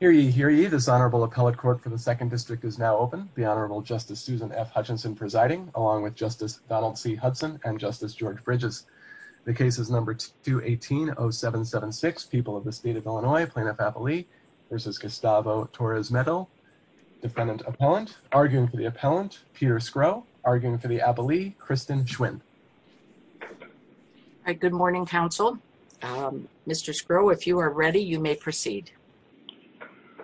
Hear ye, hear ye, this Honorable Appellate Court for the 2nd District is now open. The Honorable Justice Susan F. Hutchinson presiding, along with Justice Donald C. Hudson and Justice George Bridges. The case is number 2180776, People of the State of Illinois, Plaintiff-Appellee v. Gustavo Torres-Medel. Defendant-Appellant, arguing for the Appellant, Peter Skro, arguing for the Appellee, Kristen Schwinn. All right, good morning, counsel. Mr. Skro, if you are ready, you may proceed.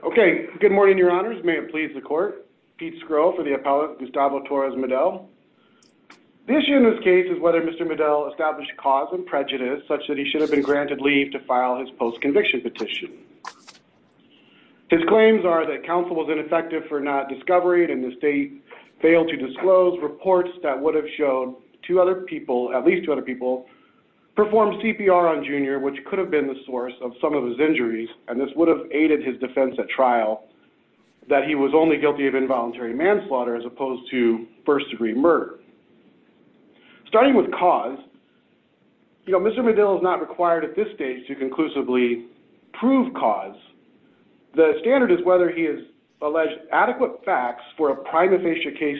Okay, good morning, Your Honors. May it please the Court. Pete Skro for the Appellant, Gustavo Torres-Medel. The issue in this case is whether Mr. Medel established cause of prejudice such that he should have been granted leave to file his post-conviction petition. His claims are that counsel was ineffective for not discovering and the state failed to at least two other people, performed CPR on Junior, which could have been the source of some of his injuries and this would have aided his defense at trial, that he was only guilty of involuntary manslaughter as opposed to first-degree murder. Starting with cause, you know, Mr. Medel is not required at this stage to conclusively prove cause. The standard is whether he has alleged adequate facts for a prima facie case,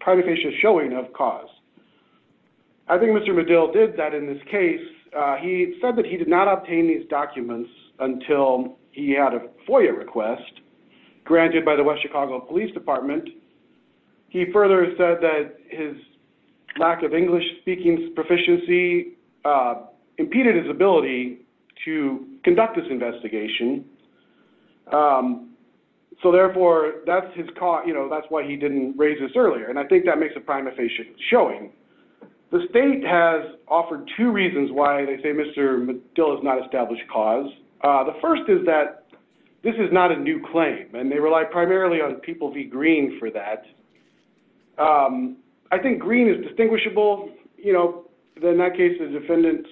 prima facie showing of cause. I think Mr. Medel did that in this case. He said that he did not obtain these documents until he had a FOIA request granted by the West Chicago Police Department. He further said that his lack of English-speaking proficiency impeded his ability to conduct this investigation. So therefore, that's his cause, you know, that's why he didn't raise this earlier and I think that makes a prima facie showing. The state has offered two reasons why they say Mr. Medel has not established cause. The first is that this is not a new claim and they rely primarily on people v. Green for that. I think Green is distinguishable, you know, in that case the defendant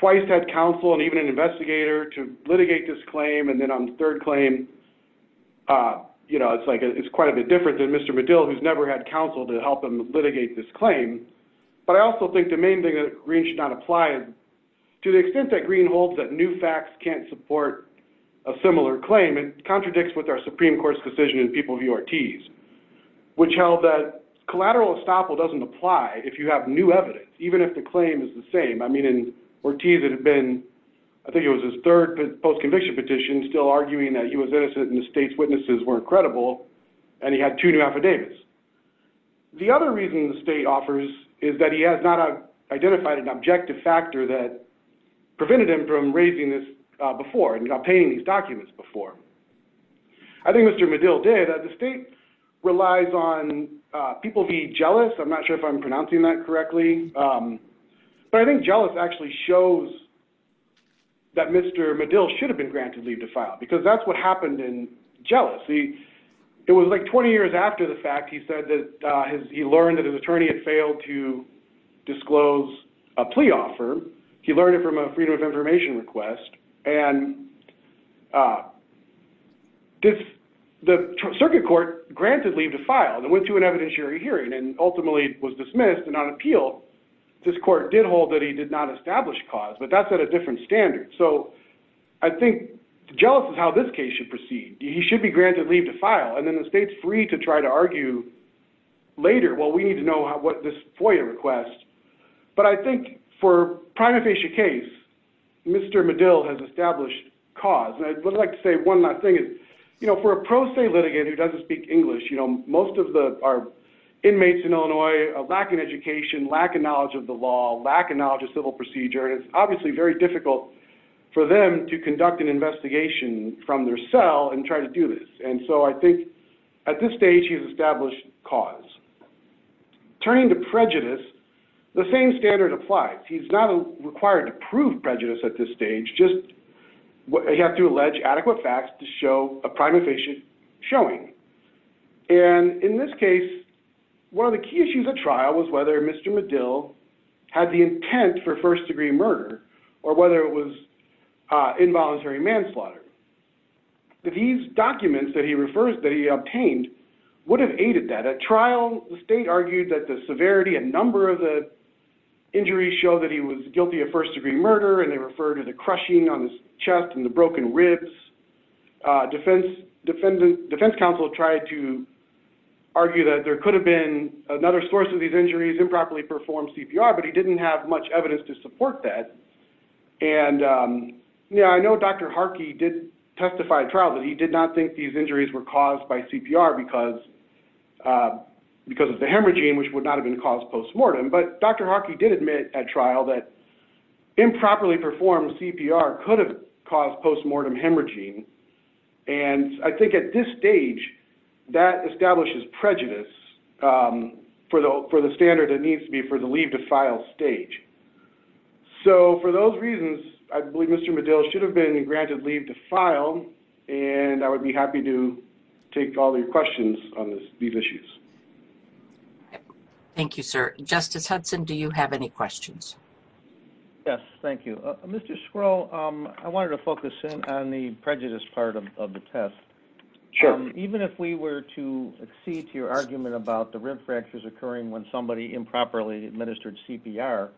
twice had counsel and even an investigator to litigate this claim and then on the third claim, you know, it's quite a bit different than Mr. Medel who's never had counsel to help him litigate this claim. But I also think the main thing that Green should not apply is to the extent that Green holds that new facts can't support a similar claim, it contradicts with our Supreme Court's decision in people v. Ortiz, which held that collateral estoppel doesn't apply if you have new evidence, even if the claim is the same. I mean, in Ortiz it had been, I think it was his third post-conviction petition, still arguing that he was innocent and the state's witnesses weren't credible and he had two new affidavits. The other reason the state offers is that he has not identified an objective factor that prevented him from raising this before and obtaining these documents before. I think Mr. Medel did. The state relies on people v. Jealous, I'm not sure if I'm pronouncing that correctly, but I think Jealous actually shows that Mr. Medel should have been granted leave to file because that's what happened in Jealous. It was like 20 years after the fact he learned that his attorney had failed to disclose a plea offer, he learned it from a freedom of information request, and the circuit court granted leave to file and went to an evidentiary hearing and ultimately was dismissed and not appealed. This court did hold that he did not establish cause, but that's at a different standard. So I think Jealous is how this case should proceed. He should be granted leave to file. And then the state's free to try to argue later, well, we need to know what this FOIA request. But I think for a prima facie case, Mr. Medel has established cause. I would like to say one last thing. For a pro se litigant who doesn't speak English, most of our inmates in Illinois are lacking education, lack of knowledge of the law, lack of knowledge of civil procedure, it's obviously very difficult for them to conduct an investigation from their cell and try to do this. So I think at this stage he's established cause. Turning to prejudice, the same standard applies. He's not required to prove prejudice at this stage, just he has to allege adequate facts to show a prima facie showing. And in this case, one of the key issues at trial was whether Mr. Medel had the intent for first degree murder or whether it was involuntary manslaughter. These documents that he obtained would have aided that. At trial the state argued that the severity, a number of the injuries show that he was guilty of first degree murder and they refer to the crushing on his chest and the broken ribs. Defense counsel tried to argue that there could have been another source of these injuries, improperly performed CPR, but he didn't have much evidence to support that. And, yeah, I know Dr. Harkey did testify at trial that he did not think these injuries were caused by CPR because of the hemorrhaging which would not have been caused postmortem. But Dr. Harkey did admit at trial that improperly performed CPR could have caused postmortem hemorrhaging. And I think at this stage that establishes prejudice for the standard that needs to be for the leave to file stage. So for those reasons, I believe Mr. Medel should have been granted leave to file and I would be happy to take all of your questions on these issues. Thank you, sir. Justice Hudson, do you have any questions? Yes. Thank you. Mr. Skrull, I wanted to focus in on the prejudice part of the test. Sure. Even if we were to accede to your argument about the rib fractures occurring when somebody improperly administered CPR,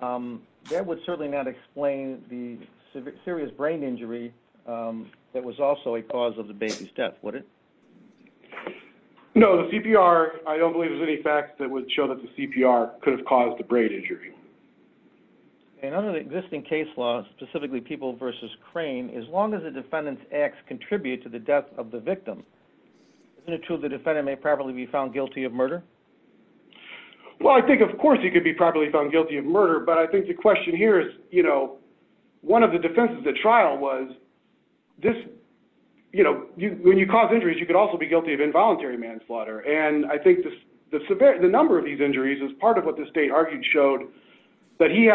that would certainly not explain the serious brain injury that was also a cause of the baby's death, would it? No, the CPR, I don't believe there's any facts that would show that the CPR could have caused the brain injury. And under the existing case law, specifically People v. Crane, as long as the defendant's acts contribute to the death of the victim, isn't it true the defendant may probably be found guilty of murder? Well, I think of course he could be probably found guilty of murder, but I think the question here is one of the defenses at trial was when you cause injuries, you could also be guilty of involuntary manslaughter. And I think the number of these injuries is part of what the state argued showed that he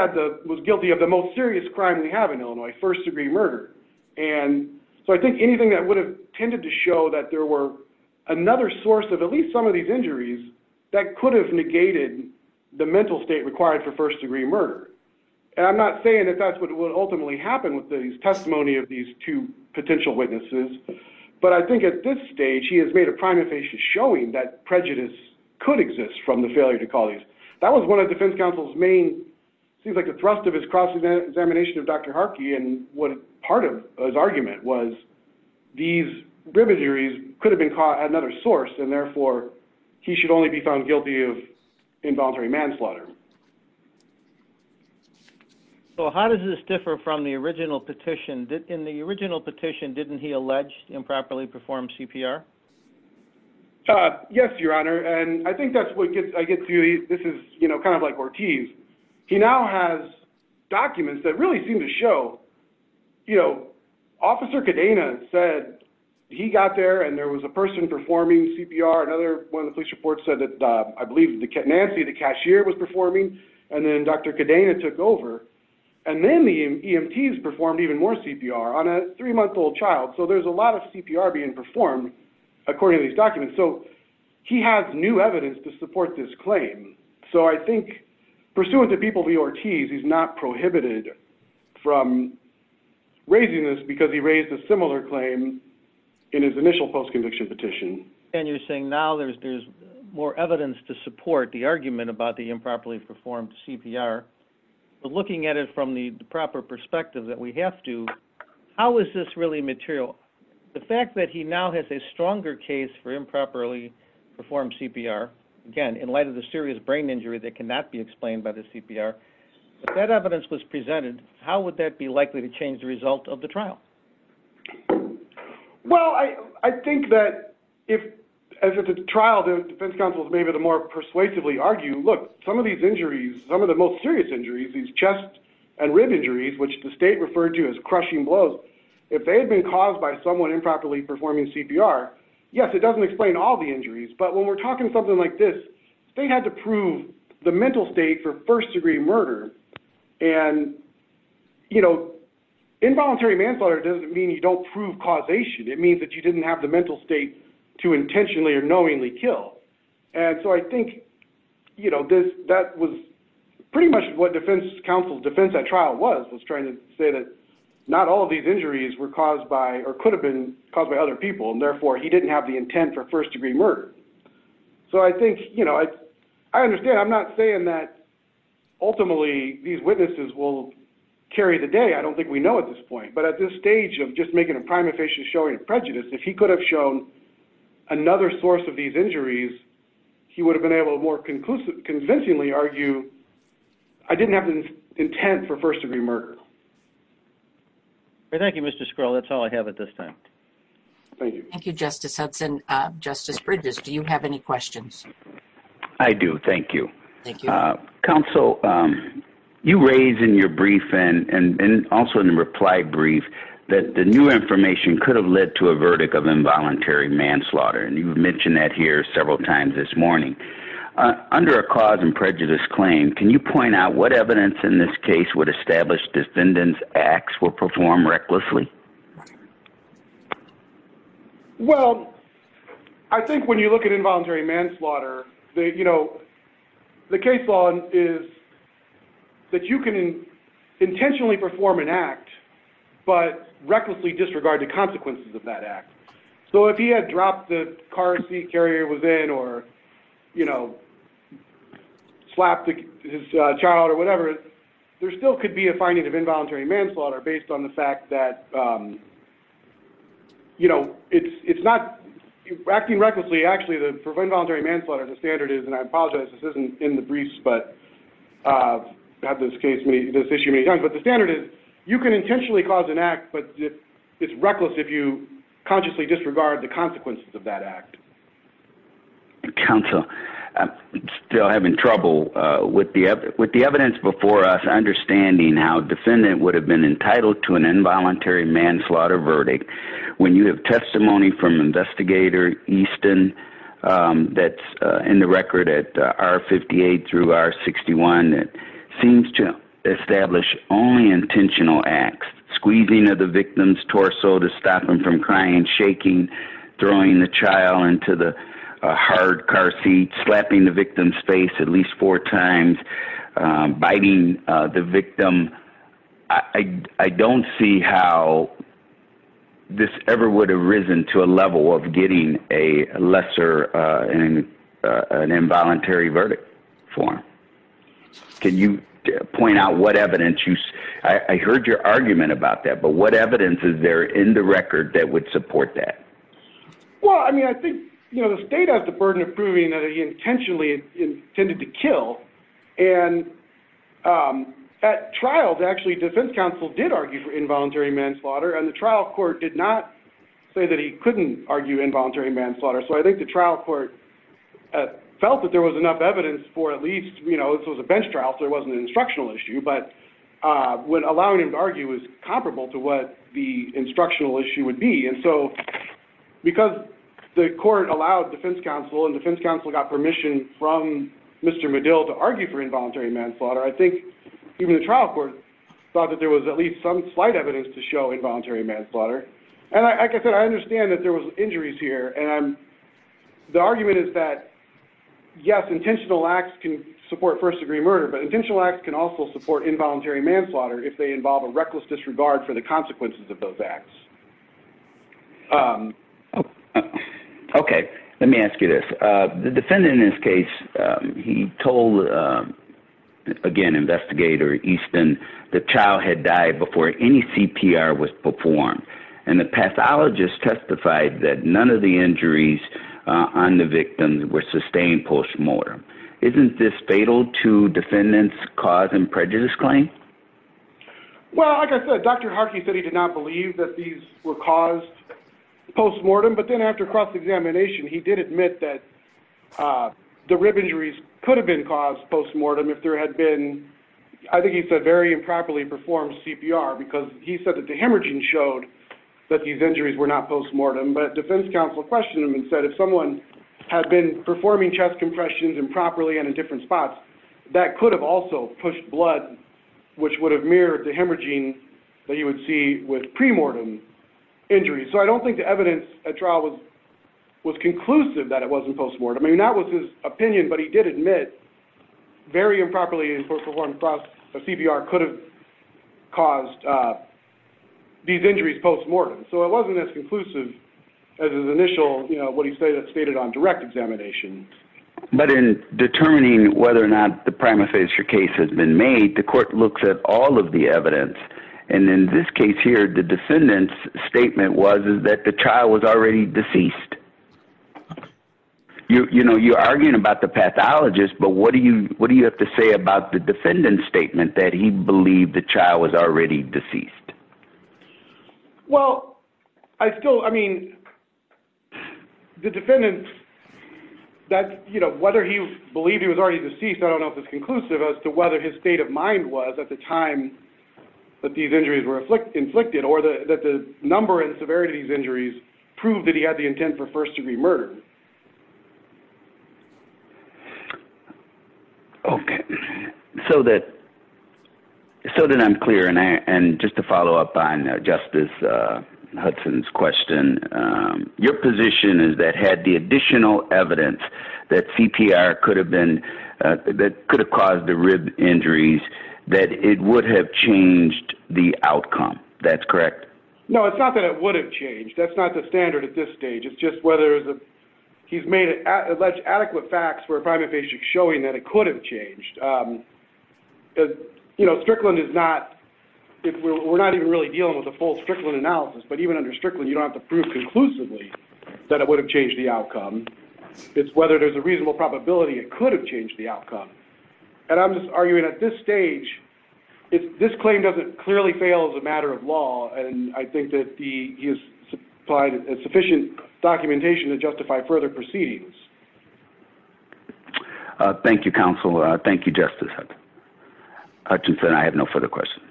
was guilty of the most serious crime we have in Illinois, first degree murder. And so I think anything that would have tended to show that there were another source of at least some of these injuries that could have negated the mental state required for first degree murder. And I'm not saying that that's what would ultimately happen with the testimony of these two potential witnesses. But I think at this stage he has made a prima facie showing that prejudice could exist from the failure to cause these. That was one of the defense counsel's main, seems like a thrust of his cross examination of Dr. Harkey and part of his argument was these brim injuries could have been caught at another source and therefore he should only be found guilty of involuntary manslaughter. So how does this differ from the original petition? In the original petition didn't he allege improperly performed CPR? Yes, Your Honor. And I think that's what I get to, this is kind of like Ortiz. He now has documents that really seem to show, you know, Officer Cadena said he got there and there was a person performing CPR, another one of the police reports said I believe Nancy the cashier was performing and then Dr. Cadena took over and then the EMTs performed even more CPR on a three-month-old child. So there's a lot of CPR being performed according to these documents. So he has new evidence to support this claim. So I think pursuant to people of the Ortiz he's not prohibited from raising this because he And you're saying now there's more evidence to support the argument about the improperly performed CPR. But looking at it from the proper perspective that we have to, how is this really material? The fact that he now has a stronger case for improperly performed CPR, again, in light of the serious brain injury that cannot be explained by the CPR, if that evidence was presented, how would that be likely to change the result of the trial? Well, I think that if as a trial defense counsels maybe the more persuasively argue, look, some of these injuries, some of the most serious injuries, these chest and rib injuries, which the state referred to as crushing blows, if they had been caused by someone improperly performing CPR, yes, it doesn't explain all the injuries. But when we're talking something like this, they had to prove the mental state for first-degree murder, and involuntary manslaughter doesn't mean you don't prove causation. It means that you didn't have the mental state to intentionally or knowingly kill. And so I think that was pretty much what defense counsel's defense at trial was, was trying to say that not all of these injuries were caused by or could have been caused by other people, and therefore he didn't have the intent for first-degree murder. So I think, you know, I understand. I'm not saying that ultimately these witnesses will carry the day. I don't think we know at this point. But at this stage of just making a prime efficient showing of prejudice, if he could have shown another source of these injuries, he would have been able to more convincingly argue, I didn't have the intent for first-degree murder. Thank you, Mr. Skrill. That's all I have at this time. Thank you. Thank you, Justice Hudson. Justice Bridges, do you have any questions? I do. Thank you. Thank you. Counsel, you raised in your brief and also in the reply brief that the new information could have led to a verdict of involuntary manslaughter, and you mentioned that here several times this morning. Under a cause and prejudice claim, can you point out what evidence in this case would establish defendants' acts were performed recklessly? Well, I think when you look at involuntary manslaughter, you know, the case law is that you can intentionally perform an act, but recklessly disregard the consequences of that act. So if he had dropped the car the carrier was in or, you know, slapped his child or whatever, there still could be a finding of involuntary manslaughter based on the fact that, you know, it's not acting recklessly. Actually, for involuntary manslaughter, the standard is, and I apologize, this isn't in the briefs, but I've had this issue many times, but the standard is you can intentionally cause an act, but it's reckless if you consciously disregard the consequences of that act. Counsel, I'm still having trouble with the evidence before us, understanding how a defendant would have been entitled to an involuntary manslaughter verdict. When you have testimony from Investigator Easton that's in the record at R-58 through R-61, it seems to establish only intentional acts, squeezing of the victim's torso to stop them from crying, shaking, throwing the child into the hard car seat, slapping the victim's face at least four times, biting the victim. I don't see how this ever would have risen to a level of getting a lesser, an involuntary verdict for him. Can you point out what evidence you, I heard your argument about that, but what evidence is there in the record that would support that? Well, I mean, I think the state has the burden of proving that he intentionally intended to kill, and at trials, actually, defense counsel did argue for involuntary manslaughter, and the trial court did not say that he couldn't argue involuntary manslaughter. So I think the trial court felt that there was enough evidence for at least, you know, this was a bench trial, so it wasn't an instructional issue, but allowing him to argue was comparable to what the instructional issue would be, and so because the court allowed defense counsel and defense counsel got permission from Mr. Medill to argue for involuntary manslaughter, I think even the trial court thought that there was at least some slight evidence to show involuntary manslaughter. And like I said, I understand that there was injuries here, and the argument is that, yes, intentional acts can support first-degree murder, but intentional acts can also support involuntary manslaughter if they involve a reckless disregard for the consequences of those acts. Okay. Let me ask you this. The defendant in this case, he told, again, Investigator Easton, the child had died before any CPR was performed, and the pathologist testified that none of the injuries on the victim were sustained post-mortem. Isn't this fatal to defendant's cause and prejudice claim? Well, like I said, Dr. Harkey said he did not believe that these were caused post-mortem, but then after cross-examination, he did admit that the rib injuries could have been caused post-mortem if there had been, I think he said, very improperly performed CPR, because he said that the hemorrhaging showed that these injuries were not post-mortem, but defense counsel questioned him and said, if someone had been performing chest compressions improperly and in different spots, that could have also pushed blood, which would have mirrored the hemorrhaging that you would see with pre-mortem injuries. So I don't think the evidence at trial was conclusive that it wasn't post-mortem. I mean, that was his opinion, but he did admit very improperly performed CPR could have caused these injuries post-mortem. So it wasn't as conclusive as his initial, what he stated on direct examination. But in determining whether or not the prima facie case has been made, the court looks at all of the evidence, and in this case here, the defendant's statement was that the child was already deceased. You're arguing about the pathologist, but what do you have to say about the defendant's statement that he believed the child was already deceased? Well, I still, I mean, the defendant that, you know, whether he believed he was already deceased, I don't know if it's conclusive as to whether his state of mind was at the time that these injuries were inflicted or that the number and severity of these injuries proved that he had the intent for first-degree murder. Okay. So that I'm clear, and just to follow up on Justice Hudson's question, your position is that had the additional evidence that CPR could have been, that could have caused the rib injuries, that it would have changed the outcome. That's correct? No, it's not that it would have changed. That's not the standard at this stage. It's just whether he's made adequate facts for a primary patient showing that it could have changed. You know, Strickland is not, we're not even really dealing with a full Strickland analysis, but even under Strickland, you don't have to prove conclusively that it would have changed the outcome. It's whether there's a reasonable probability it could have changed the outcome. And I'm just arguing at this stage, this claim doesn't clearly fail as a matter of law, and I think that he has supplied sufficient documentation to justify further proceedings. Thank you, counsel. Thank you, Justice Hutchinson. I have no further questions.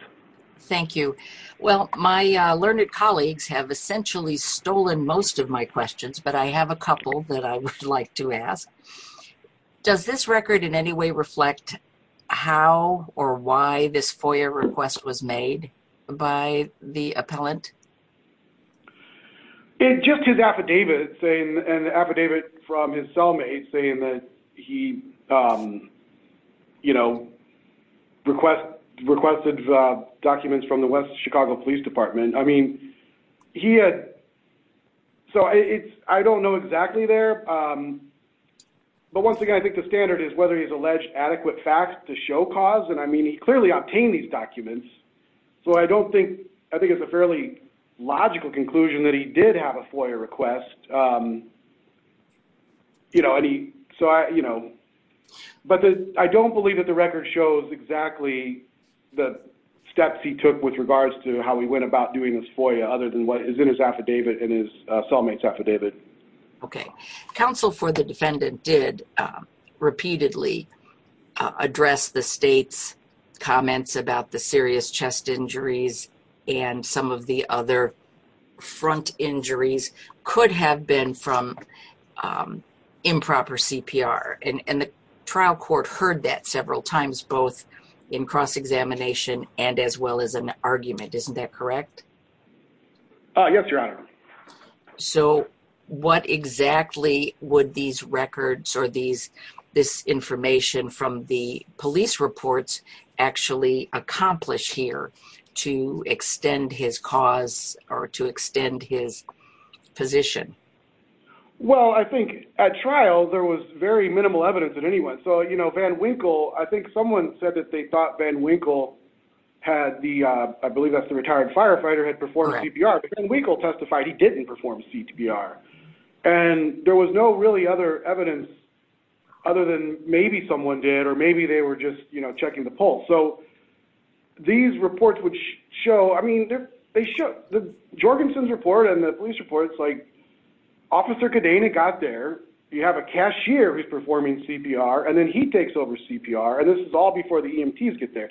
Thank you. Well, my learned colleagues have essentially stolen most of my questions, but I have a couple that I would like to ask. Does this record in any way reflect how or why this FOIA request was made by the appellant? It's just his affidavit and the affidavit from his cellmate saying that he, you know, requested documents from the West Chicago Police Department. I mean, he had, so it's, I don't know exactly there, but once again, I think the standard is whether he's alleged adequate facts to show cause, and I mean he clearly obtained these documents, so I don't think, I think it's a fairly logical conclusion that he did have a FOIA request. You know, and he, so I, you know, but I don't believe that the record shows exactly the steps he took with regards to how he went about doing this FOIA other than what is in his affidavit and his cellmate's affidavit. Okay. Counsel for the defendant did repeatedly address the state's comments about the serious chest injuries and some of the other front injuries could have been from improper CPR, and the trial court heard that several times both in cross-examination and as well as an argument. Isn't that correct? Yes, Your Honor. So what exactly would these records or this information from the police reports actually accomplish here to extend his cause or to extend his position? Well, I think at trial there was very minimal evidence at any one. So, you know, Van Winkle, I think someone said that they thought Van Winkle had the, I believe that's the retired firefighter, had performed CPR, but Van Winkle testified he didn't perform CPR, and there was no really other evidence other than maybe someone did or maybe they were just, you know, checking the pulse. So these reports would show, I mean, they show, Jorgensen's report and the police report is like Officer Cadena got there, you have a cashier who's performing CPR, and then he takes over CPR, and this is all before the EMTs get there.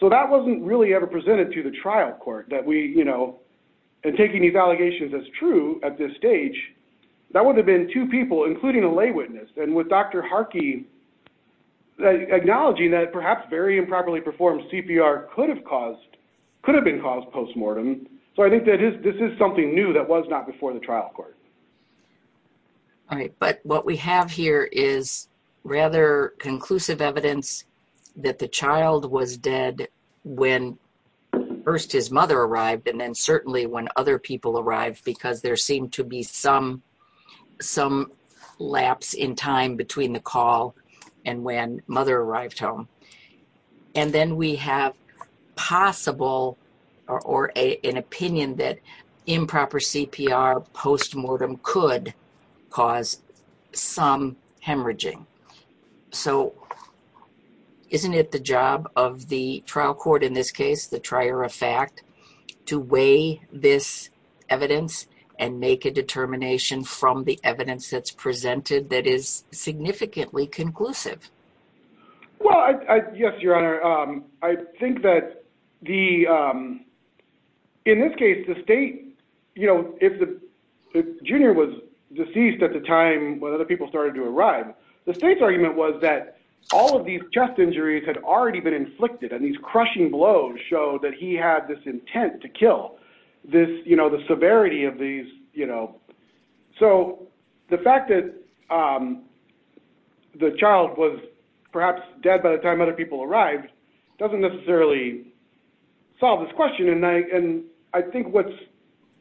So that wasn't really ever presented to the trial court that we, you know, and taking these allegations as true at this stage, that would have been two people, including a lay witness, and with Dr. Harkey acknowledging that perhaps very improperly performed CPR could have caused, could have caused postmortem. So I think this is something new that was not before the trial court. All right. But what we have here is rather conclusive evidence that the child was dead when first his mother arrived and then certainly when other people arrived because there seemed to be some lapse in time between the call and when mother arrived home. And then we have possible or an opinion that improper CPR postmortem could cause some hemorrhaging. So isn't it the job of the trial court in this case, the trier of fact, to weigh this evidence and make a determination from the evidence that's presented that is significantly conclusive? Well, yes, Your Honor. I think that the, in this case, the state, you know, if the junior was deceased at the time when other people started to arrive, the state's argument was that all of these chest injuries had already been inflicted and these crushing blows showed that he had this intent to kill this, you know, the severity of these, you know. So the fact that the child was perhaps dead by the time other people arrived doesn't necessarily solve this question. And I think what's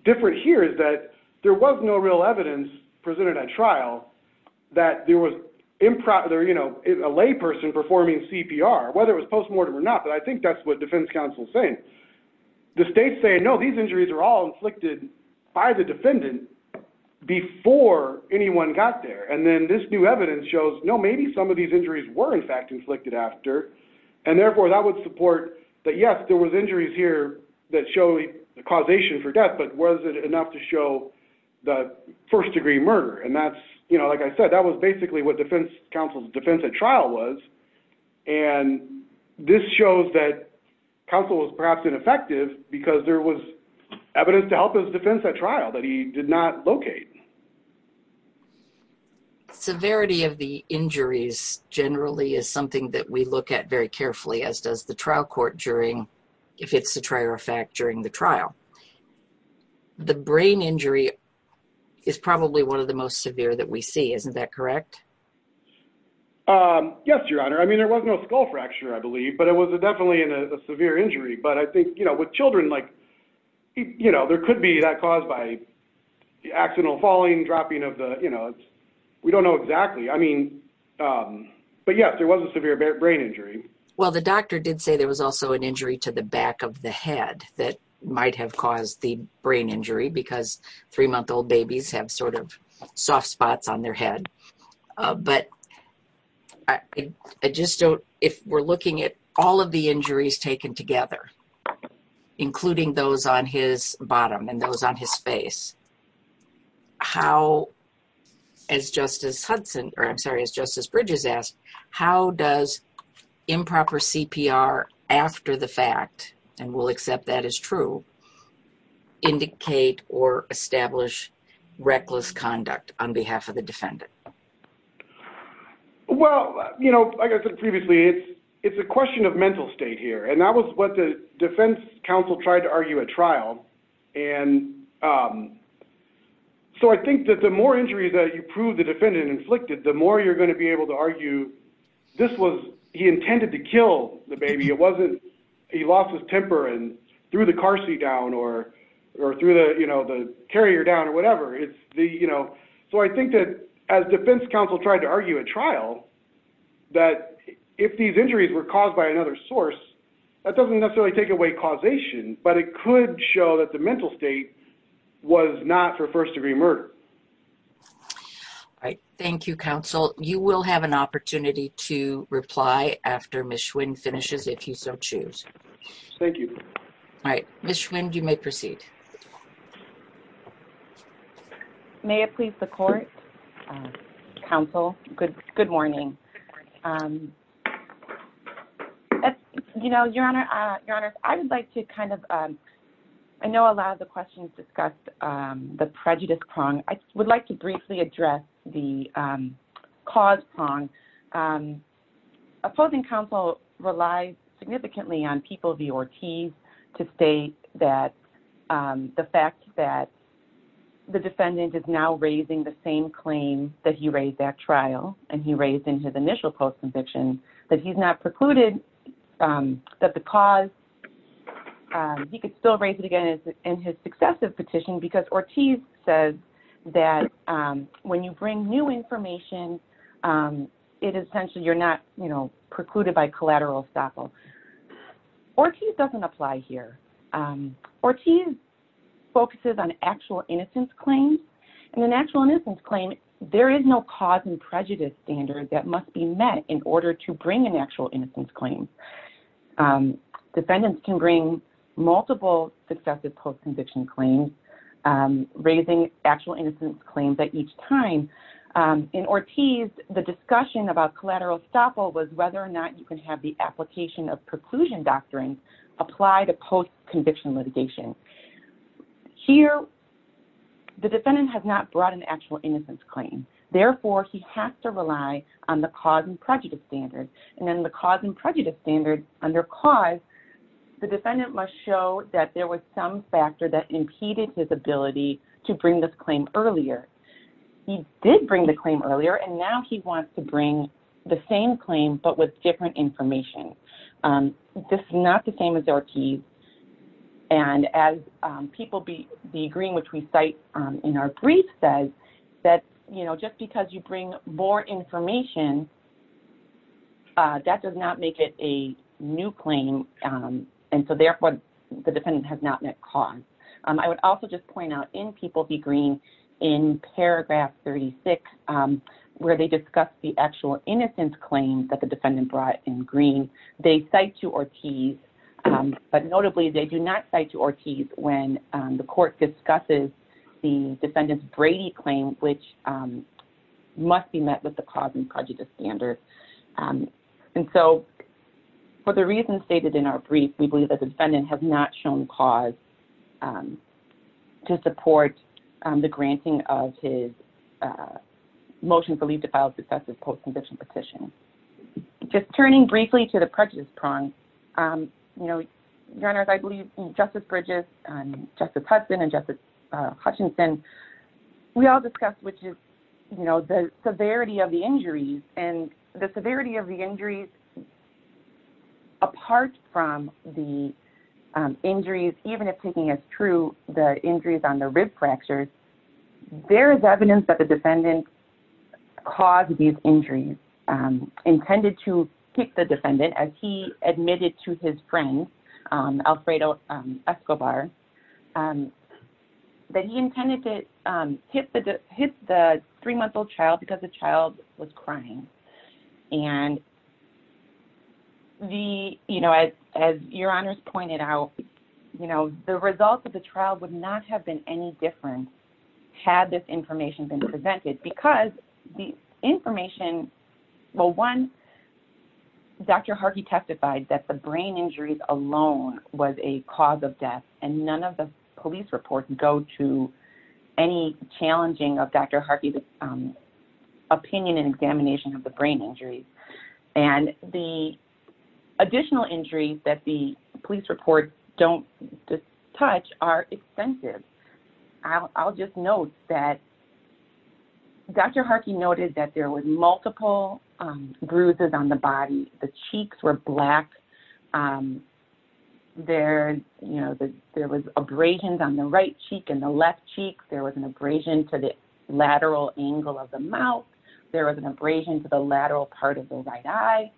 different here is that there was no real evidence presented at trial that there was improper, you know, a layperson performing CPR, whether it was postmortem or not. But I think that's what defense counsel is saying. The state's saying, no, these injuries are all inflicted by the defendant before anyone got there. And then this new evidence shows, no, maybe some of these injuries were, in fact, inflicted after. And, therefore, that would support that, yes, there was injuries here that show the causation for death, but was it enough to show the first-degree murder? And that's, you know, like I said, that was basically what defense counsel's defense at trial was. And this shows that counsel was perhaps ineffective because there was evidence to help his defense at trial that he did not locate. Severity of the injuries generally is something that we look at very carefully, as does the trial court during, if it's a trial fact, during the trial. The brain injury is probably one of the most severe that we see. Isn't that correct? Yes, Your Honor. I mean, there was no skull fracture, I believe, but it was definitely a severe injury. But I think, you know, with children, like, you know, there could be that caused by accidental falling, dropping of the, you know, we don't know exactly. I mean, but yes, there was a severe brain injury. Well, the doctor did say there was also an injury to the back of the head that might have caused the brain injury because three-month-old babies have sort of soft spots on their head. But I just don't, if we're looking at all of the injuries taken together, including those on his bottom and those on his face, how, as Justice Hudson, or I'm sorry, as Justice Bridges asked, how does improper CPR after the fact, and we'll accept that as true, indicate or establish reckless conduct on behalf of the defendant? Well, you know, like I said previously, it's a question of mental state here. And that was what the defense counsel tried to argue at trial. And so I think that the more injuries that you prove the defendant inflicted, the more you're going to be able to argue, this was, he intended to kill the baby. It wasn't, he lost his temper and threw the car seat down or, or through the, you know, the carrier down or whatever. It's the, you know, so I think that as defense counsel tried to argue at trial, that if these injuries were caused by another source, that doesn't necessarily take away causation, but it could show that the mental state was not for first degree murder. All right. Thank you, counsel. You will have an opportunity to reply after Ms. Schwinn finishes, if you so choose. Thank you. All right. Ms. Schwinn, you may proceed. May it please the court, counsel. Good. Good morning. You know, your honor, your honor, I would like to kind of, I know a lot of the questions discussed the prejudice prong. I would like to briefly address the cause prong. Opposing counsel relies significantly on people, the Ortiz to state that the fact that the defendant is now raising the same claim that he raised that trial and he raised in his initial post conviction, that he's not precluded that the cause, he could still raise it again in his successive petition because Ortiz says that when you bring new information, it is essentially you're not precluded by collateral estoppel. Ortiz doesn't apply here. Ortiz focuses on actual innocence claims and an actual innocence claim. There is no cause and prejudice standard that must be met in order to bring an actual innocence claim. Defendants can bring multiple successive post conviction claims, raising actual innocence claims at each time. In Ortiz, the discussion about collateral estoppel was whether or not you can have the application of preclusion doctrine applied to post conviction litigation. Here, the defendant has not brought an actual innocence claim. Therefore he has to rely on the cause and prejudice standard. And then the cause and prejudice standard under cause, the defendant must show that there was some factor that impeded his ability to bring this claim earlier. He did bring the claim earlier. And now he wants to bring the same claim, but with different information. This is not the same as Ortiz. And as People Be Green, which we cite in our brief says that, you know, just because you bring more information, that does not make it a new claim. And so therefore, the defendant has not met cause. I would also just point out in People Be Green in paragraph 36, where they discuss the actual innocence claims that the defendant brought in Green, they cite to Ortiz, but notably they do not cite to Ortiz when the court discusses the defendant's Brady claim, which must be met with the cause and prejudice standard. And so for the reasons stated in our brief, we believe that the defendant has not shown cause to support the granting of his motion for leave to file successive post-conviction petition. Just turning briefly to the prejudice prong, you know, your honors, I believe Justice Bridges and Justice Hudson and Justice Hutchinson, we all discussed, which is, you know, the severity of the injuries and the severity of the injuries apart from the injuries, even if taking as true the injuries on the rib fractures, there is evidence that the defendant caused these injuries intended to kick the defendant as he admitted to his friend, Alfredo Escobar, that he intended to hit the three-month-old child because the child was crying. And the, you know, as, as your honors pointed out, you know, the results of the trial would not have been any different had this information been presented because the information, well, one, Dr. Harkey testified that the brain injuries alone was a cause of death and none of the police reports go to any challenging of Dr. Harkey's opinion and examination of the brain injuries. And the additional injuries that the police report don't touch are extensive. I'll just note that Dr. Harkey noted that there was multiple bruises on the body. The cheeks were black. There, you know, there was abrasions on the right cheek and the left cheek. There was an abrasion to the lateral angle of the mouth. There was an abrasion to the lateral part of the right eye.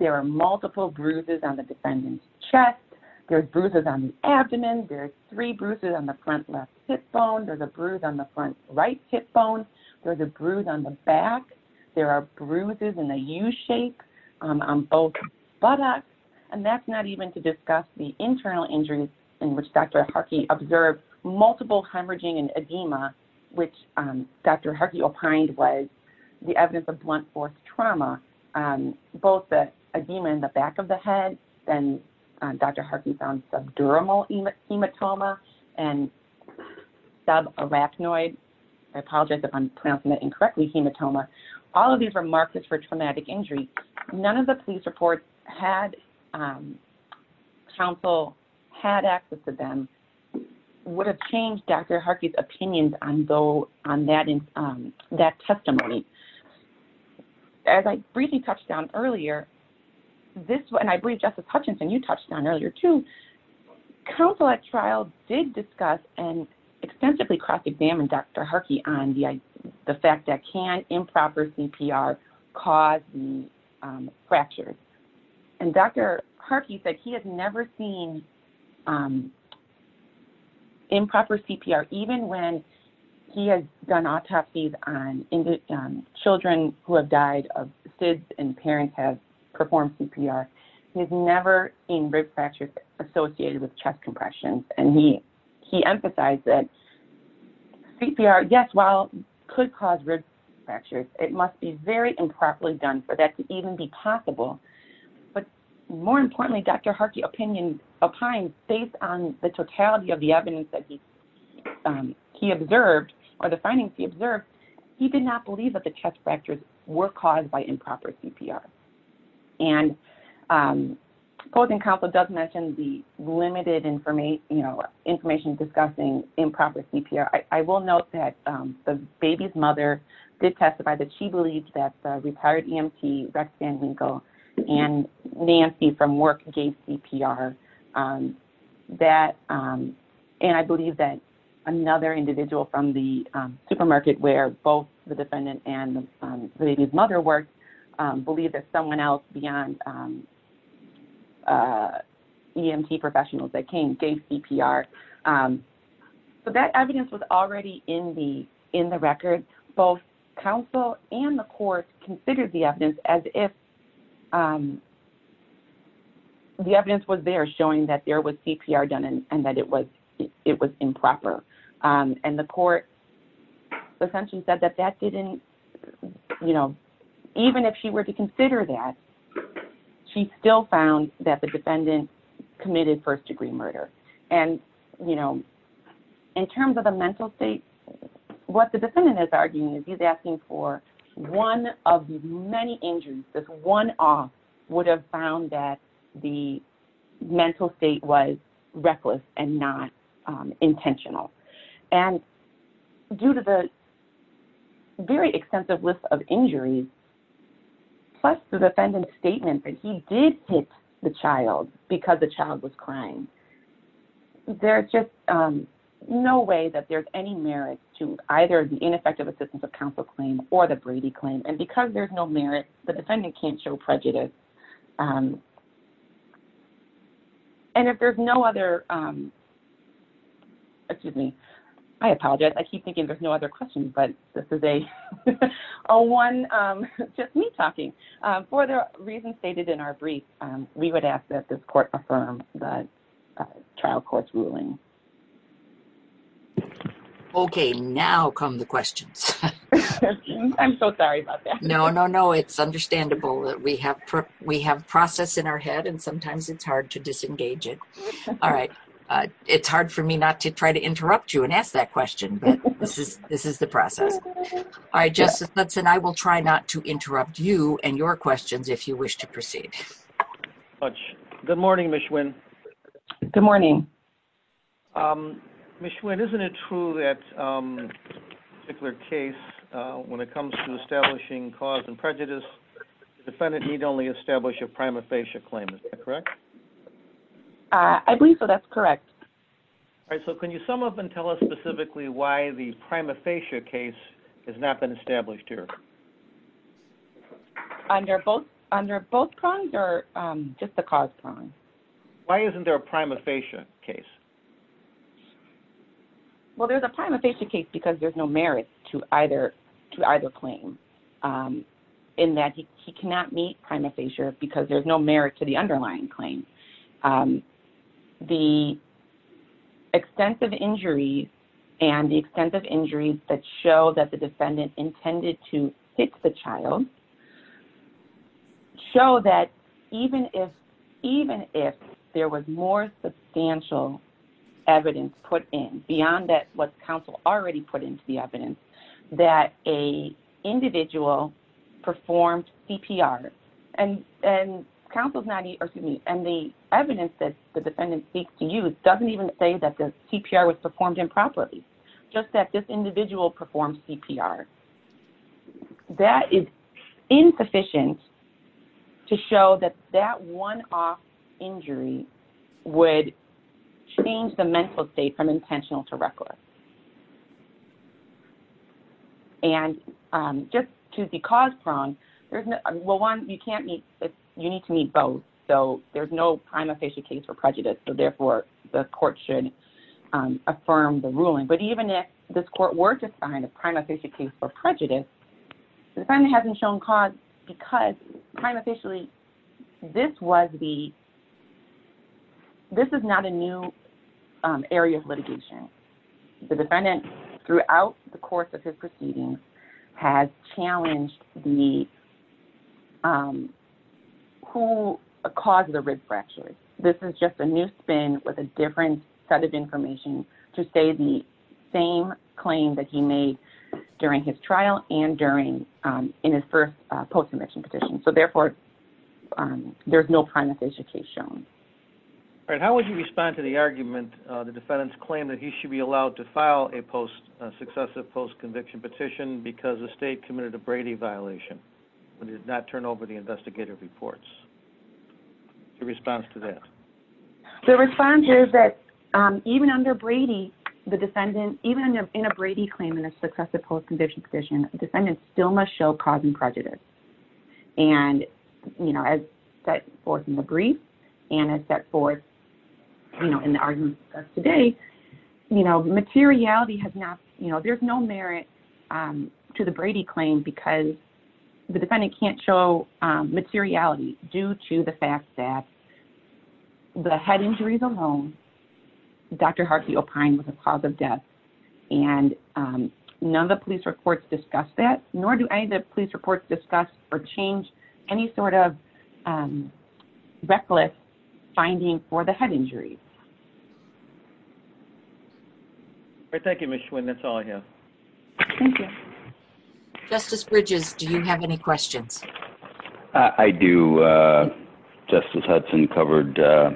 There are multiple bruises on the defendant's chest. There's bruises on the abdomen. There's three bruises on the front left hip bone. There's a bruise on the front right hip bone. There's a bruise on the back. There are bruises in the U shape on both buttocks. And that's not even to discuss the internal injuries in which Dr. Harkey observed multiple hemorrhaging and edema, which Dr. Harkey opined was the evidence of blunt force trauma, both the edema in the back of the head. Then Dr. Harkey found subdural hematoma and subarachnoid, I apologize if I'm pronouncing that incorrectly, hematoma. All of these are markers for traumatic injury. None of the police reports had counsel, had access to them, would have changed Dr. Harkey's opinions on that testimony. As I briefly touched on earlier, and I believe Justice Hutchinson, you touched on earlier too, counsel at trial did discuss and extensively cross-examined Dr. Harkey on the fact that can improper CPR cause fractures. And Dr. Harkey said he has never seen improper CPR, even when he has done autopsies on children who have died of SIDS and parents have performed CPR. He has never seen rib fractures associated with chest compressions. And he emphasized that CPR, yes, while could cause rib fractures, it must be very improperly done for that to even be possible. But more importantly, Dr. Harkey opined based on the totality of the evidence that he observed or the findings he observed, he did not believe that the chest fractures were caused by improper CPR. And the opposing counsel does mention the limited information, you know, information discussing improper CPR. I will note that the baby's mother did testify that she believed that the retired EMT, Rex Van Winkle, and Nancy from work gave CPR. And I believe that another individual from the supermarket where both the defendant and the baby's mother worked believed that someone else beyond EMT professionals that came gave CPR. So that evidence was already in the record. Both counsel and the court considered the evidence as if the evidence was there showing that there was CPR done and that it was, it was improper. And the court essentially said that that didn't, you know, even if she were to consider that, she still found that the defendant committed first degree murder. And, you know, in terms of the mental state, what the defendant is arguing is he's asking for one of the many injuries, this one off would have found that the mental state was reckless and not intentional. And due to the very extensive list of injuries, plus the defendant's statement that he did hit the child because the child was crying, there's just no way that there's any merit to either the ineffective assistance of counsel claim or the Brady claim. And because there's no merit, the defendant can't show prejudice. And if there's no other, excuse me, I apologize. I keep thinking there's no other questions, but this is a one, just me talking for the reasons stated in our brief, we would ask that this court affirm that trial court's ruling. Okay. Now come the questions. I'm so sorry about that. No, no, no. It's understandable that we have prep, we have process in our head and sometimes it's hard to disengage it. All right. It's hard for me not to try to interrupt you and ask that question, but this is, this is the process. I just, that's an I will try not to interrupt you and your questions if you wish to proceed. Good morning. Good morning. Um, Ms. Schwinn, isn't it true that, um, particular case when it comes to establishing cause and prejudice, the defendant need only establish a prima facie claim. Is that correct? I believe so. That's correct. All right. So can you sum up and tell us specifically why the prima facie case has not been established here? Under both, under both prongs or, um, just the cause prong. Why isn't there a prima facie case? Well, there's a prima facie case because there's no merit to either, to either claim, um, in that he cannot meet prima facie because there's no merit to the underlying claim. Um, the extensive injury and the extensive injuries that show that the defendant intended to hit the child show that even if, even if there was more substantial evidence put in beyond that, what's counsel already put into the evidence that a individual performed CPR and, and counsel's not, or excuse me, and the evidence that the defendant seeks to use doesn't even say that the CPR was performed improperly, just that this individual performed CPR. That is insufficient to show that that one off injury would change the mental state from intentional to reckless. And, um, just to the cause prong, there's no, well, one, you can't meet, you need to meet both. So there's no prima facie case for prejudice. So therefore the court should, um, affirm the ruling. But even if this court were to find a prima facie case for prejudice, the defendant hasn't shown cause because prima facially this was the, this is not a new area of litigation. The defendant throughout the course of his proceedings has challenged the, um, who caused the rib fractures. This is just a new spin with a different set of information to say the, the same claim that he made during his trial and during, um, in his first post-conviction petition. So therefore, um, there's no prima facie case shown. All right. How would you respond to the argument? Uh, the defendant's claim that he should be allowed to file a post, uh, successive post conviction petition because the state committed a Brady violation and did not turn over the investigative reports. Your response to that? The response is that, um, even under Brady, the defendant, even in a Brady claim in a successive post-conviction petition, the defendant still must show cause and prejudice. And, you know, as set forth in the brief and as set forth, you know, in the arguments discussed today, you know, materiality has not, you know, there's no merit, um, to the Brady claim because the defendant can't show, um, the fact that the head injuries alone, Dr. Hartley opine was a cause of death and, um, none of the police reports discuss that, nor do any of the police reports discuss or change any sort of, um, reckless finding for the head injury. Thank you, Ms. Schwinn. That's all I have. Justice Bridges. Do you have any questions? I do. Uh, Justice Hudson covered, uh,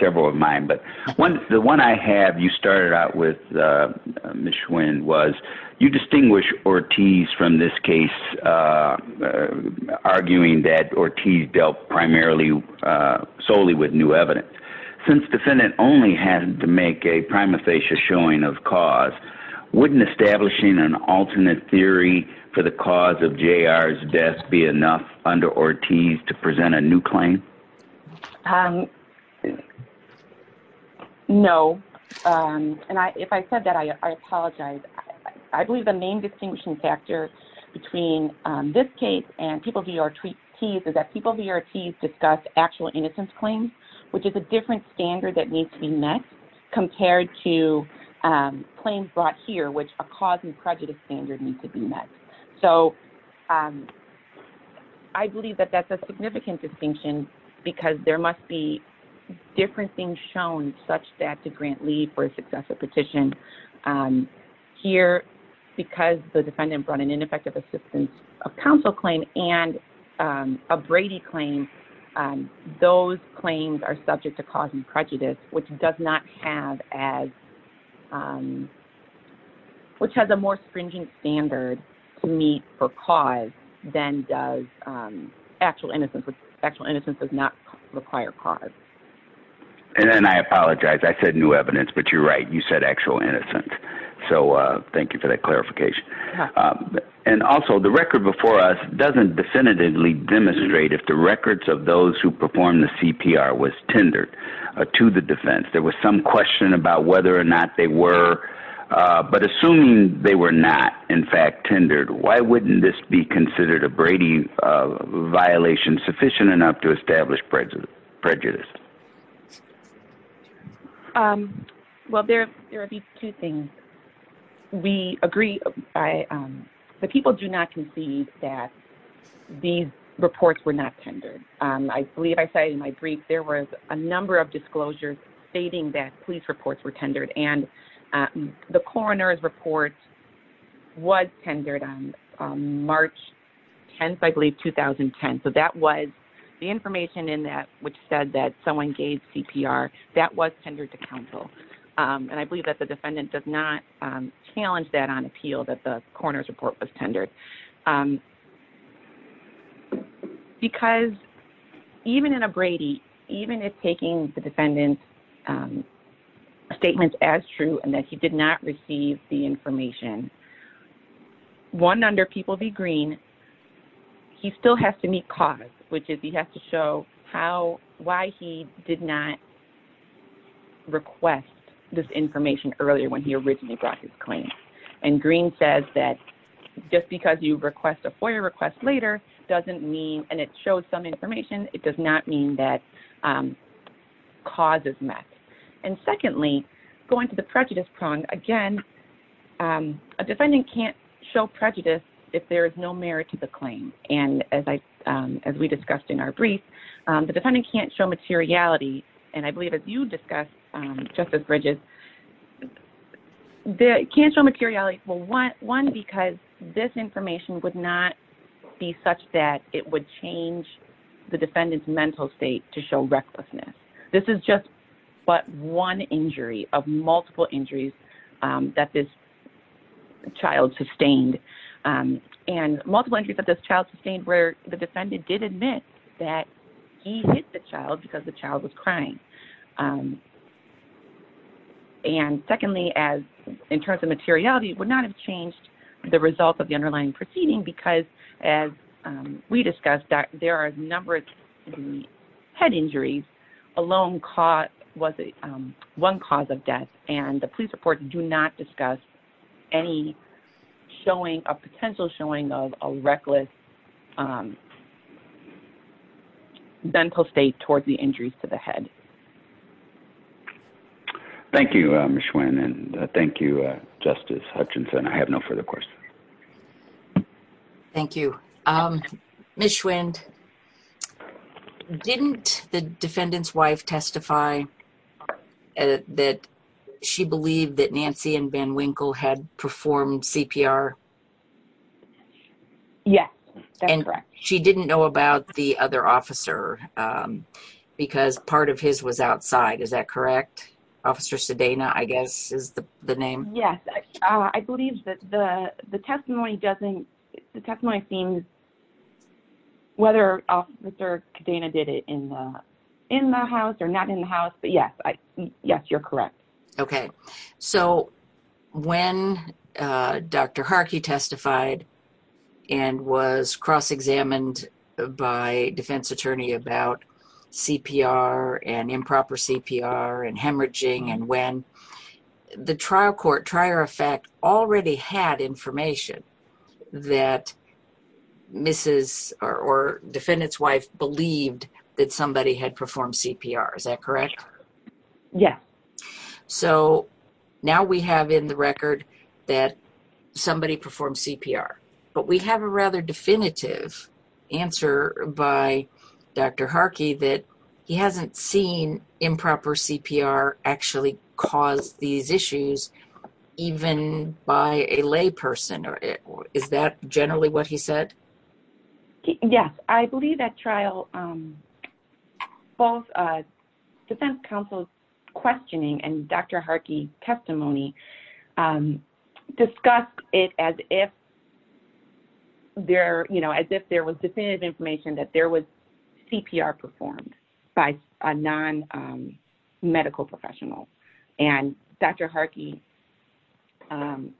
several of mine, but one, the one I have, you started out with, uh, Ms. Schwinn was you distinguish Ortiz from this case, uh, arguing that Ortiz dealt primarily, uh, solely with new evidence. Since defendant only had to make a prima facie showing of cause, wouldn't establishing an alternate theory for the cause of J.R.'s death be enough under Ortiz to present a new claim? Um, no. Um, and I, if I said that, I, I apologize. I believe the main distinguishing factor between this case and people who are T's is that people who are T's discuss actual innocence claims, which is a different standard that needs to be met compared to, um, claims brought here, which a cause and prejudice standard needs to be met. So, um, I believe that that's a significant distinction because there must be different things shown such that to grant leave for a successful petition. Um, here, because the defendant brought an ineffective assistance of counsel claim and, um, a Brady claim, um, those claims are subject to cause and prejudice, which does not have as, um, which has a more stringent standard to meet for cause than does, um, actual innocence, which actual innocence does not require cause. And then I apologize. I said new evidence, but you're right. You said actual innocence. So, uh, thank you for that clarification. Um, and also the record before us doesn't definitively demonstrate if the records of those who perform the CPR was tendered to the defense, there was some question about whether or not they were, uh, but assuming they were not in fact tendered, why wouldn't this be considered a Brady violation sufficient enough to establish prejudice prejudice? Um, well, there, there are these two things we agree. I, um, the people do not concede that these reports were not tendered. Um, I believe I say in my brief, there was a number of disclosures stating that police reports were tendered and, uh, the coroner's report was tendered on March 10th, I believe 2010. So that was the information in that, which said that someone gave CPR that was tendered to counsel. Um, and I believe that the defendant does not, um, challenge that on appeal that the coroner's report was tendered. Um, because even in a Brady, even if taking the defendant's, um, statements as true and that he did not receive the information, one under people be green, he still has to meet cause, which is he has to show how, why he did not request this information earlier when he originally brought his claim. And green says that just because you request a FOIA request later, doesn't mean, and it shows some information. It does not mean that, um, cause is met. And secondly, going to the prejudice prong again, um, a defendant can't show prejudice if there is no merit to the claim. And as I, um, as we discussed in our brief, um, the defendant can't show materiality. And I believe as you discussed, um, justice Bridges, the cancel materiality will want one, because this information would not be such that it would change the defendant's mental state to show recklessness. This is just what one injury of multiple injuries, um, that this child sustained, um, and multiple entries that this child sustained where the defendant did admit that he hit the child because the child was crying. Um, and secondly, as in terms of materiality, it would not have changed the result of the underlying proceeding because as, um, we discussed that there are a number of head injuries alone caught. Was it, um, one cause of death and the police report do not discuss any showing a potential showing of a reckless, um, dental state towards the injuries to the head. Thank you. Um, and thank you justice Hutchinson. I have no further questions. Thank you. Um, didn't the defendant's wife testify that she believed that Nancy and Ben Winkle had performed CPR? Yeah. And she didn't know about the other officer, um, because part of his was outside. Is that correct? Officer Sedana, I guess is the name. Yes. I believe that the, the testimony doesn't, the testimony seems whether officer Sedana did it in the, in the house or not in the house. But yes, I, yes, you're correct. Okay. So when, uh, Dr. Harkey testified and was cross-examined by defense attorney about CPR, and improper CPR, and hemorrhaging, and when the trial court, trier effect already had information that Mrs. or defendant's wife believed that somebody had performed CPR. Is that correct? Yeah. So now we have in the record that somebody performed CPR, but we have a rather definitive answer by Dr. Harkey that he hasn't seen improper CPR actually cause these issues even by a lay person or is that generally what he said? Yes. I believe that trial, um, both, uh, defense counsel's questioning and Dr. Harkey testimony, um, discussed it as if there, you know, as if there was definitive information that there was CPR performed by a non, um, medical professional. And Dr. Harkey, um,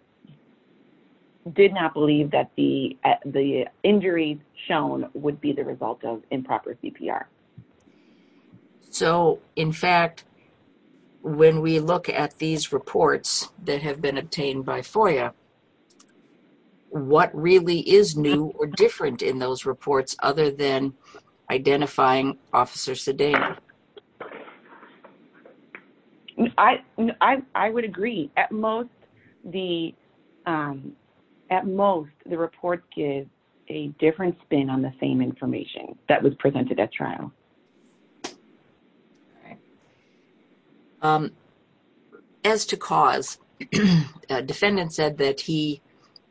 did not believe that the, uh, the injuries shown would be the result of improper CPR. So in fact, when we look at these reports that have been obtained by FOIA, what really is new or different in those reports other than identifying officers today? I, I, I would agree at most the, um, at most the report gives a different spin on the same information that was presented at trial. All right. Um, as to cause a defendant said that he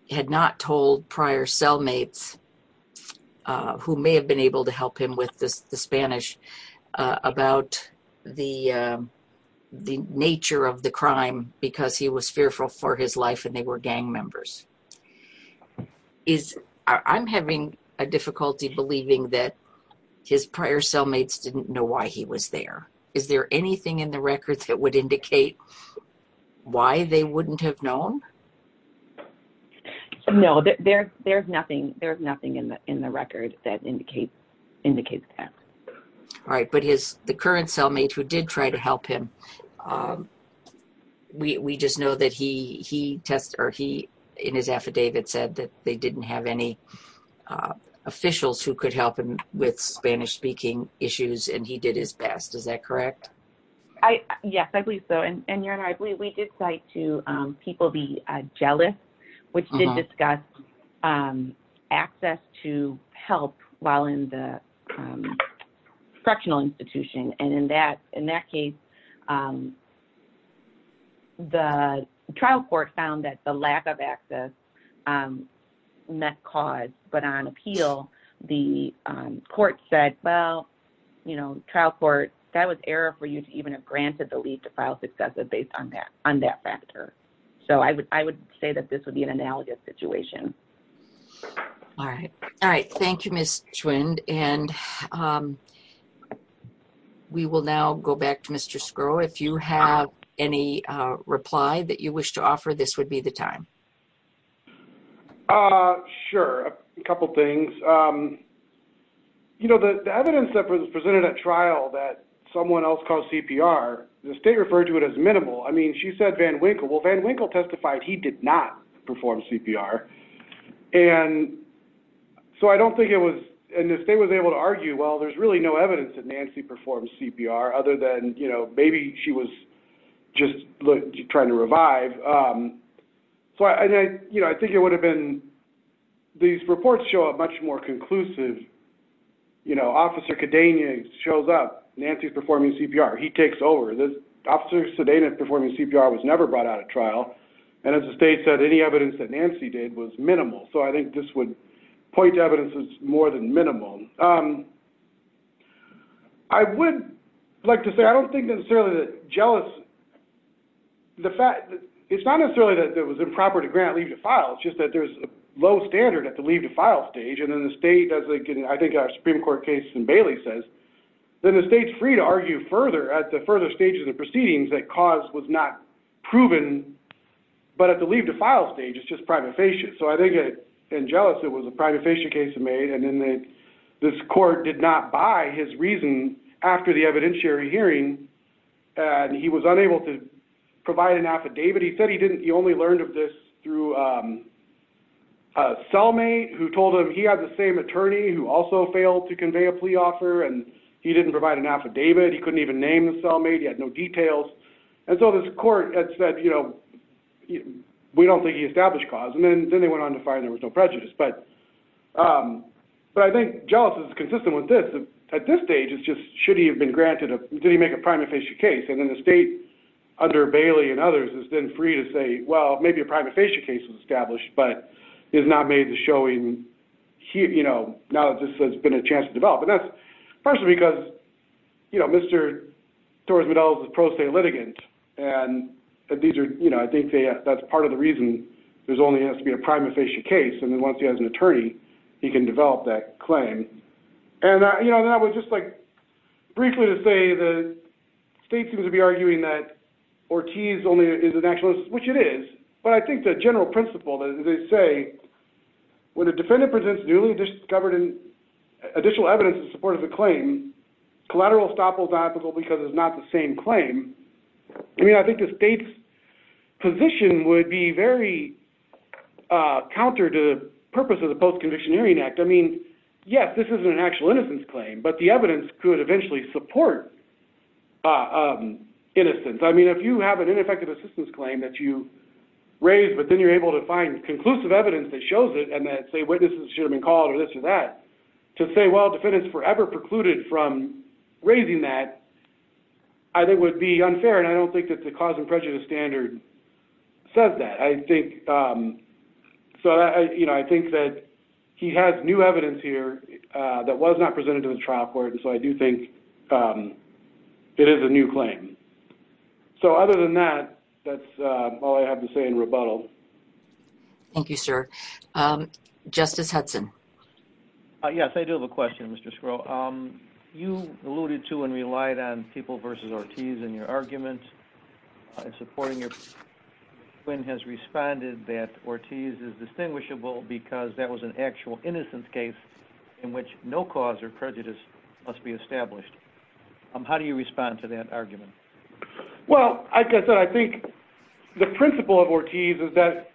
had not told prior cellmates, uh, who may have been able to help him with this, the Spanish, uh, about the, uh, the nature of the crime because he was fearful for his life and they were gang members. Is, I'm having a difficulty believing that his prior cellmates didn't know why he was there. Is there anything in the records that would indicate why they wouldn't have known? No, there, there's nothing, there's nothing in the, in the record that indicates indicates that. All right. But his, the current cellmate who did try to help him, um, we, we just know that he, he tests or he, in his affidavit said that they didn't have any, uh, officials who could help him with Spanish speaking issues and he did his best. Is that correct? I, yes, I believe so. And, and you're right. We, we did cite to, um, people be jealous, which did discuss, um, access to help while in the, um, correctional institution. And in that, in that case, um, the trial court found that the lack of access, um, met cause, but on appeal, the, um, court said, well, you know, trial court, that was error for you to even have granted the lead to file successive based on that, on that factor. So I would, I would say that this would be an analogous situation. All right. All right. Thank you, Ms. Schwind. And, um, we will now go back to Mr. Skro. If you have any reply that you wish to offer, this would be the time. Uh, sure. A couple of things. Um, you know, the, the evidence that was presented at trial that someone else called CPR, the state referred to it as minimal. I mean, she said Van Winkle, well Van Winkle testified, he did not perform CPR. And so I don't think it was, and the state was able to argue, well, there's really no evidence that Nancy performs CPR other than, you know, maybe she was just trying to revive. Um, so I, you know, I think it would have been, these reports show up much more conclusive, you know, officer Kadenia shows up Nancy's performing CPR. He takes over this. Officer Sedana performing CPR was never brought out of trial. And as the state said, any evidence that Nancy did was minimal. So I think this would point to evidence is more than minimum. Um, I would like to say, I don't think necessarily that jealous, the fact that, it's not necessarily that it was improper to grant leave to file. It's just that there's a low standard at the leave to file stage. And then the state does like, I think our Supreme court case in Bailey says, then the state's free to argue further at the further stages of proceedings that cause was not proven, but at the leave to file stage, it's just prima facie. So I think in jealous, it was a prima facie case made. And then this court did not buy his reason after the evidentiary hearing. And he was unable to provide an affidavit. He said, he didn't, he only learned of this through a cellmate who told him he had the same attorney who also failed to convey a plea offer. And he didn't provide an affidavit. He couldn't even name the cellmate. He had no details. And so this court had said, you know, we don't think he established cause. And then, and then they went on to find there was no prejudice, but but I think jealous, it's consistent with this at this stage, it's just, should he have been granted, did he make a prima facie case? And then the state under Bailey and others has been free to say, well, maybe a prima facie case was established, but is not made the showing he, you know, now this has been a chance to develop. And that's partially because, you know, Mr. Torres-Midell is a pro se litigant. And these are, you know, I think that's part of the reason there's only has to be a prima facie case. And then once he has an attorney, he can develop that claim. And I, you know, that was just like briefly to say the state seems to be arguing that Ortiz only is an actualist, which it is. But I think the general principle that they say, when a defendant presents newly discovered in additional evidence in support of the claim, collateral estoppel is not applicable because it's not the same claim. I mean, I think the state's position would be very counter to the purpose of the post-conviction hearing act. I mean, yes, this isn't an actual innocence claim, but the evidence could eventually support innocence. I mean, if you have an ineffective assistance claim that you raised, but then you're able to find conclusive evidence that shows it and that say witnesses should have been called or this or that to say, well, defendants forever precluded from raising that, I think would be unfair. And I don't think that the cause and prejudice standard says that I think. So, you know, I think that he has new evidence here that was not presented to the trial court. And so I do think it is a new claim. So other than that, that's all I have to say in rebuttal. Thank you, sir. Justice Hudson. Yes, I do have a question, Mr. Skrull. You alluded to and relied on people versus Ortiz and your argument supporting your twin has responded that Ortiz is distinguishable because that was an actual innocence case in which no cause or prejudice must be established. How do you respond to that argument? Well, I guess I think the principle of Ortiz is that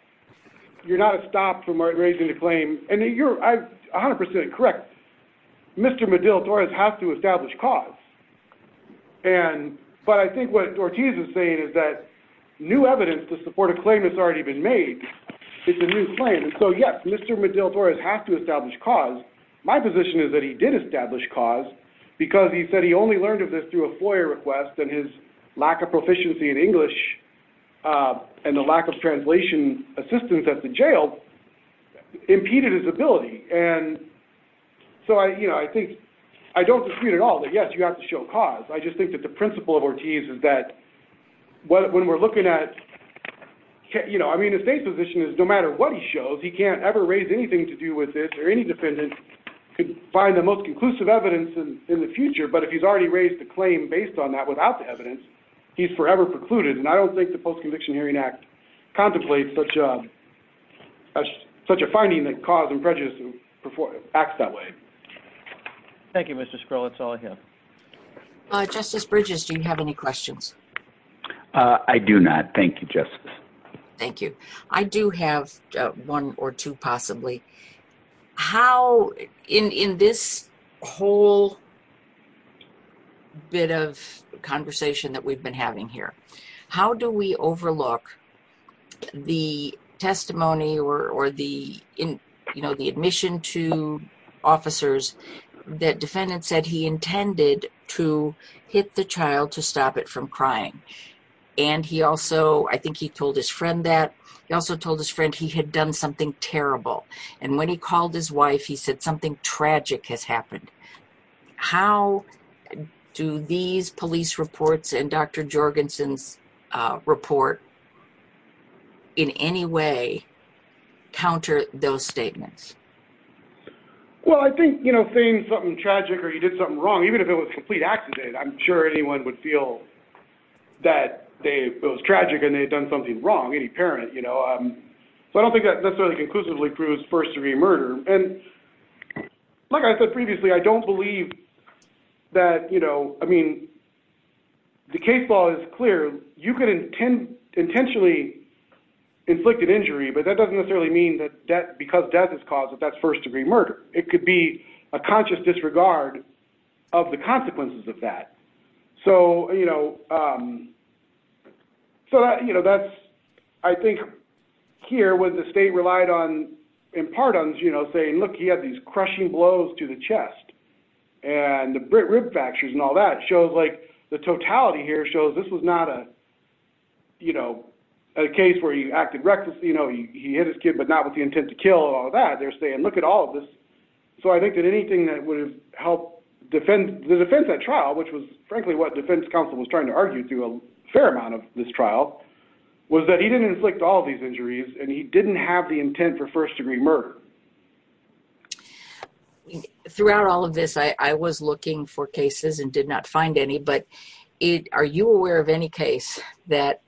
you're not stopped from raising the claim and you're a hundred percent correct. Mr. Medill-Torres has to establish cause. And but I think what Ortiz is saying is that new evidence to support a claim has already been made. It's a new claim. So, yes, Mr. Medill-Torres has to establish cause. My position is that he did establish cause because he said he only learned of this through a FOIA request and his lack of proficiency in English and the lack of translation assistance at the jail impeded his ability. And so I think I don't disagree at all that, yes, you have to show cause. I just think that the principle of Ortiz is that when we're looking at, you know, I mean, the state's position is no matter what he shows, he can't ever raise anything to do with this or any defendant could find the most conclusive evidence in the future. But if he's already raised a claim based on that without the evidence, he's forever precluded. And I don't think the Post-Conviction Hearing Act contemplates such a finding that cause and prejudice acts that way. Thank you, Mr. Scrull. That's all I have. Justice Bridges, do you have any questions? I do not. Thank you, Justice. Thank you. I do have one or two possibly. How, in this whole bit of conversation that we've been having here, how do we overlook the testimony or the, you know, the admission to officers that defendants said he intended to hit the child to stop it from crying? And he also, I think he told his friend that he also told his friend he had done something terrible. And when he called his wife, he said something tragic has happened. How do these police reports and Dr. Jorgensen's report in any way counter those statements? Well, I think, you know, saying something tragic or he did something wrong, even if it was a complete accident, I'm sure anyone would feel that it was tragic and they had done something wrong, any parent, you know. So I don't think that necessarily conclusively proves first degree murder. And like I said previously, I don't believe that, you know, I mean, the case law is clear. You could intentionally inflict an injury, but that doesn't necessarily mean that because death is caused that that's first degree murder. It could be a conscious disregard of the consequences of that. So, you know, so, you know, that's I think here with the state relied on, in part on, you know, saying, look, he had these crushing blows to the chest and the rib fractures and all that shows like the totality here shows this was not a, you know, a case where you acted recklessly. You know, he hit his kid, but not with the intent to kill or that. They're saying, look at all of this. So I think that anything that would have helped defend the defense at trial, which was frankly what defense counsel was trying to argue through a fair amount of this trial, was that he didn't inflict all of these injuries and he didn't have the intent for first degree murder. Throughout all of this, I was looking for cases and did not find any. But are you aware of any case that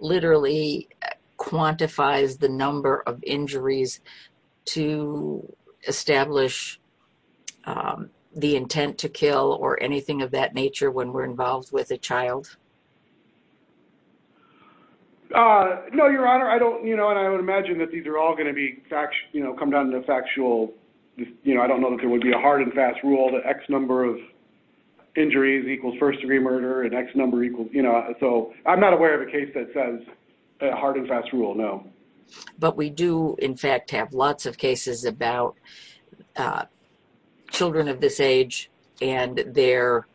literally quantifies the number of injuries to establish the intent to kill or anything of that nature when we're involved with a child? No, Your Honor, I don't, you know, and I would imagine that these are all going to be fact, you know, come down to the factual, you know, I don't know that there would be a hard and fast rule that X number of injuries equals first degree murder and X number equals, you know, so I'm not aware of a case that says a hard and fast rule, no. But we do, in fact, have lots of cases about children of this age and their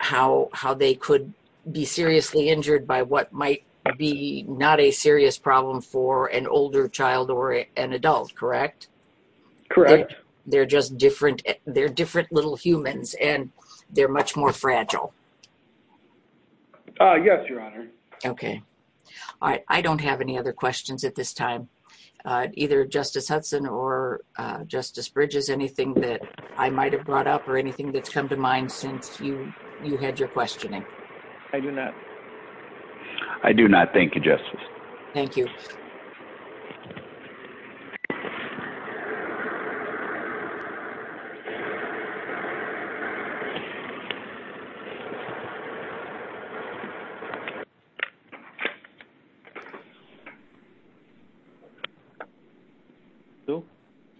how they could be seriously injured by what might be not a serious problem for an older child or an adult, correct? Correct. They're just different. They're different little humans and they're much more fragile. Yes, Your Honor. Okay. I don't have any other questions at this time, either Justice Hudson or Justice Bridges. Anything that I might have brought up or anything that's come to mind since you had your questioning? I do not. I do not. Thank you, Justice. Thank you.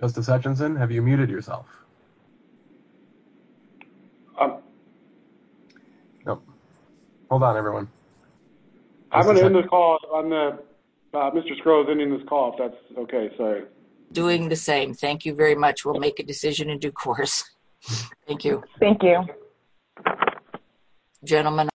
Justice Hutchinson, have you muted yourself? Hold on, everyone. I'm going to end the call. Mr. Scroggs ending this call, if that's okay. Doing the same. Thank you very much. We'll make a decision in due course. Thank you. Thank you, gentlemen.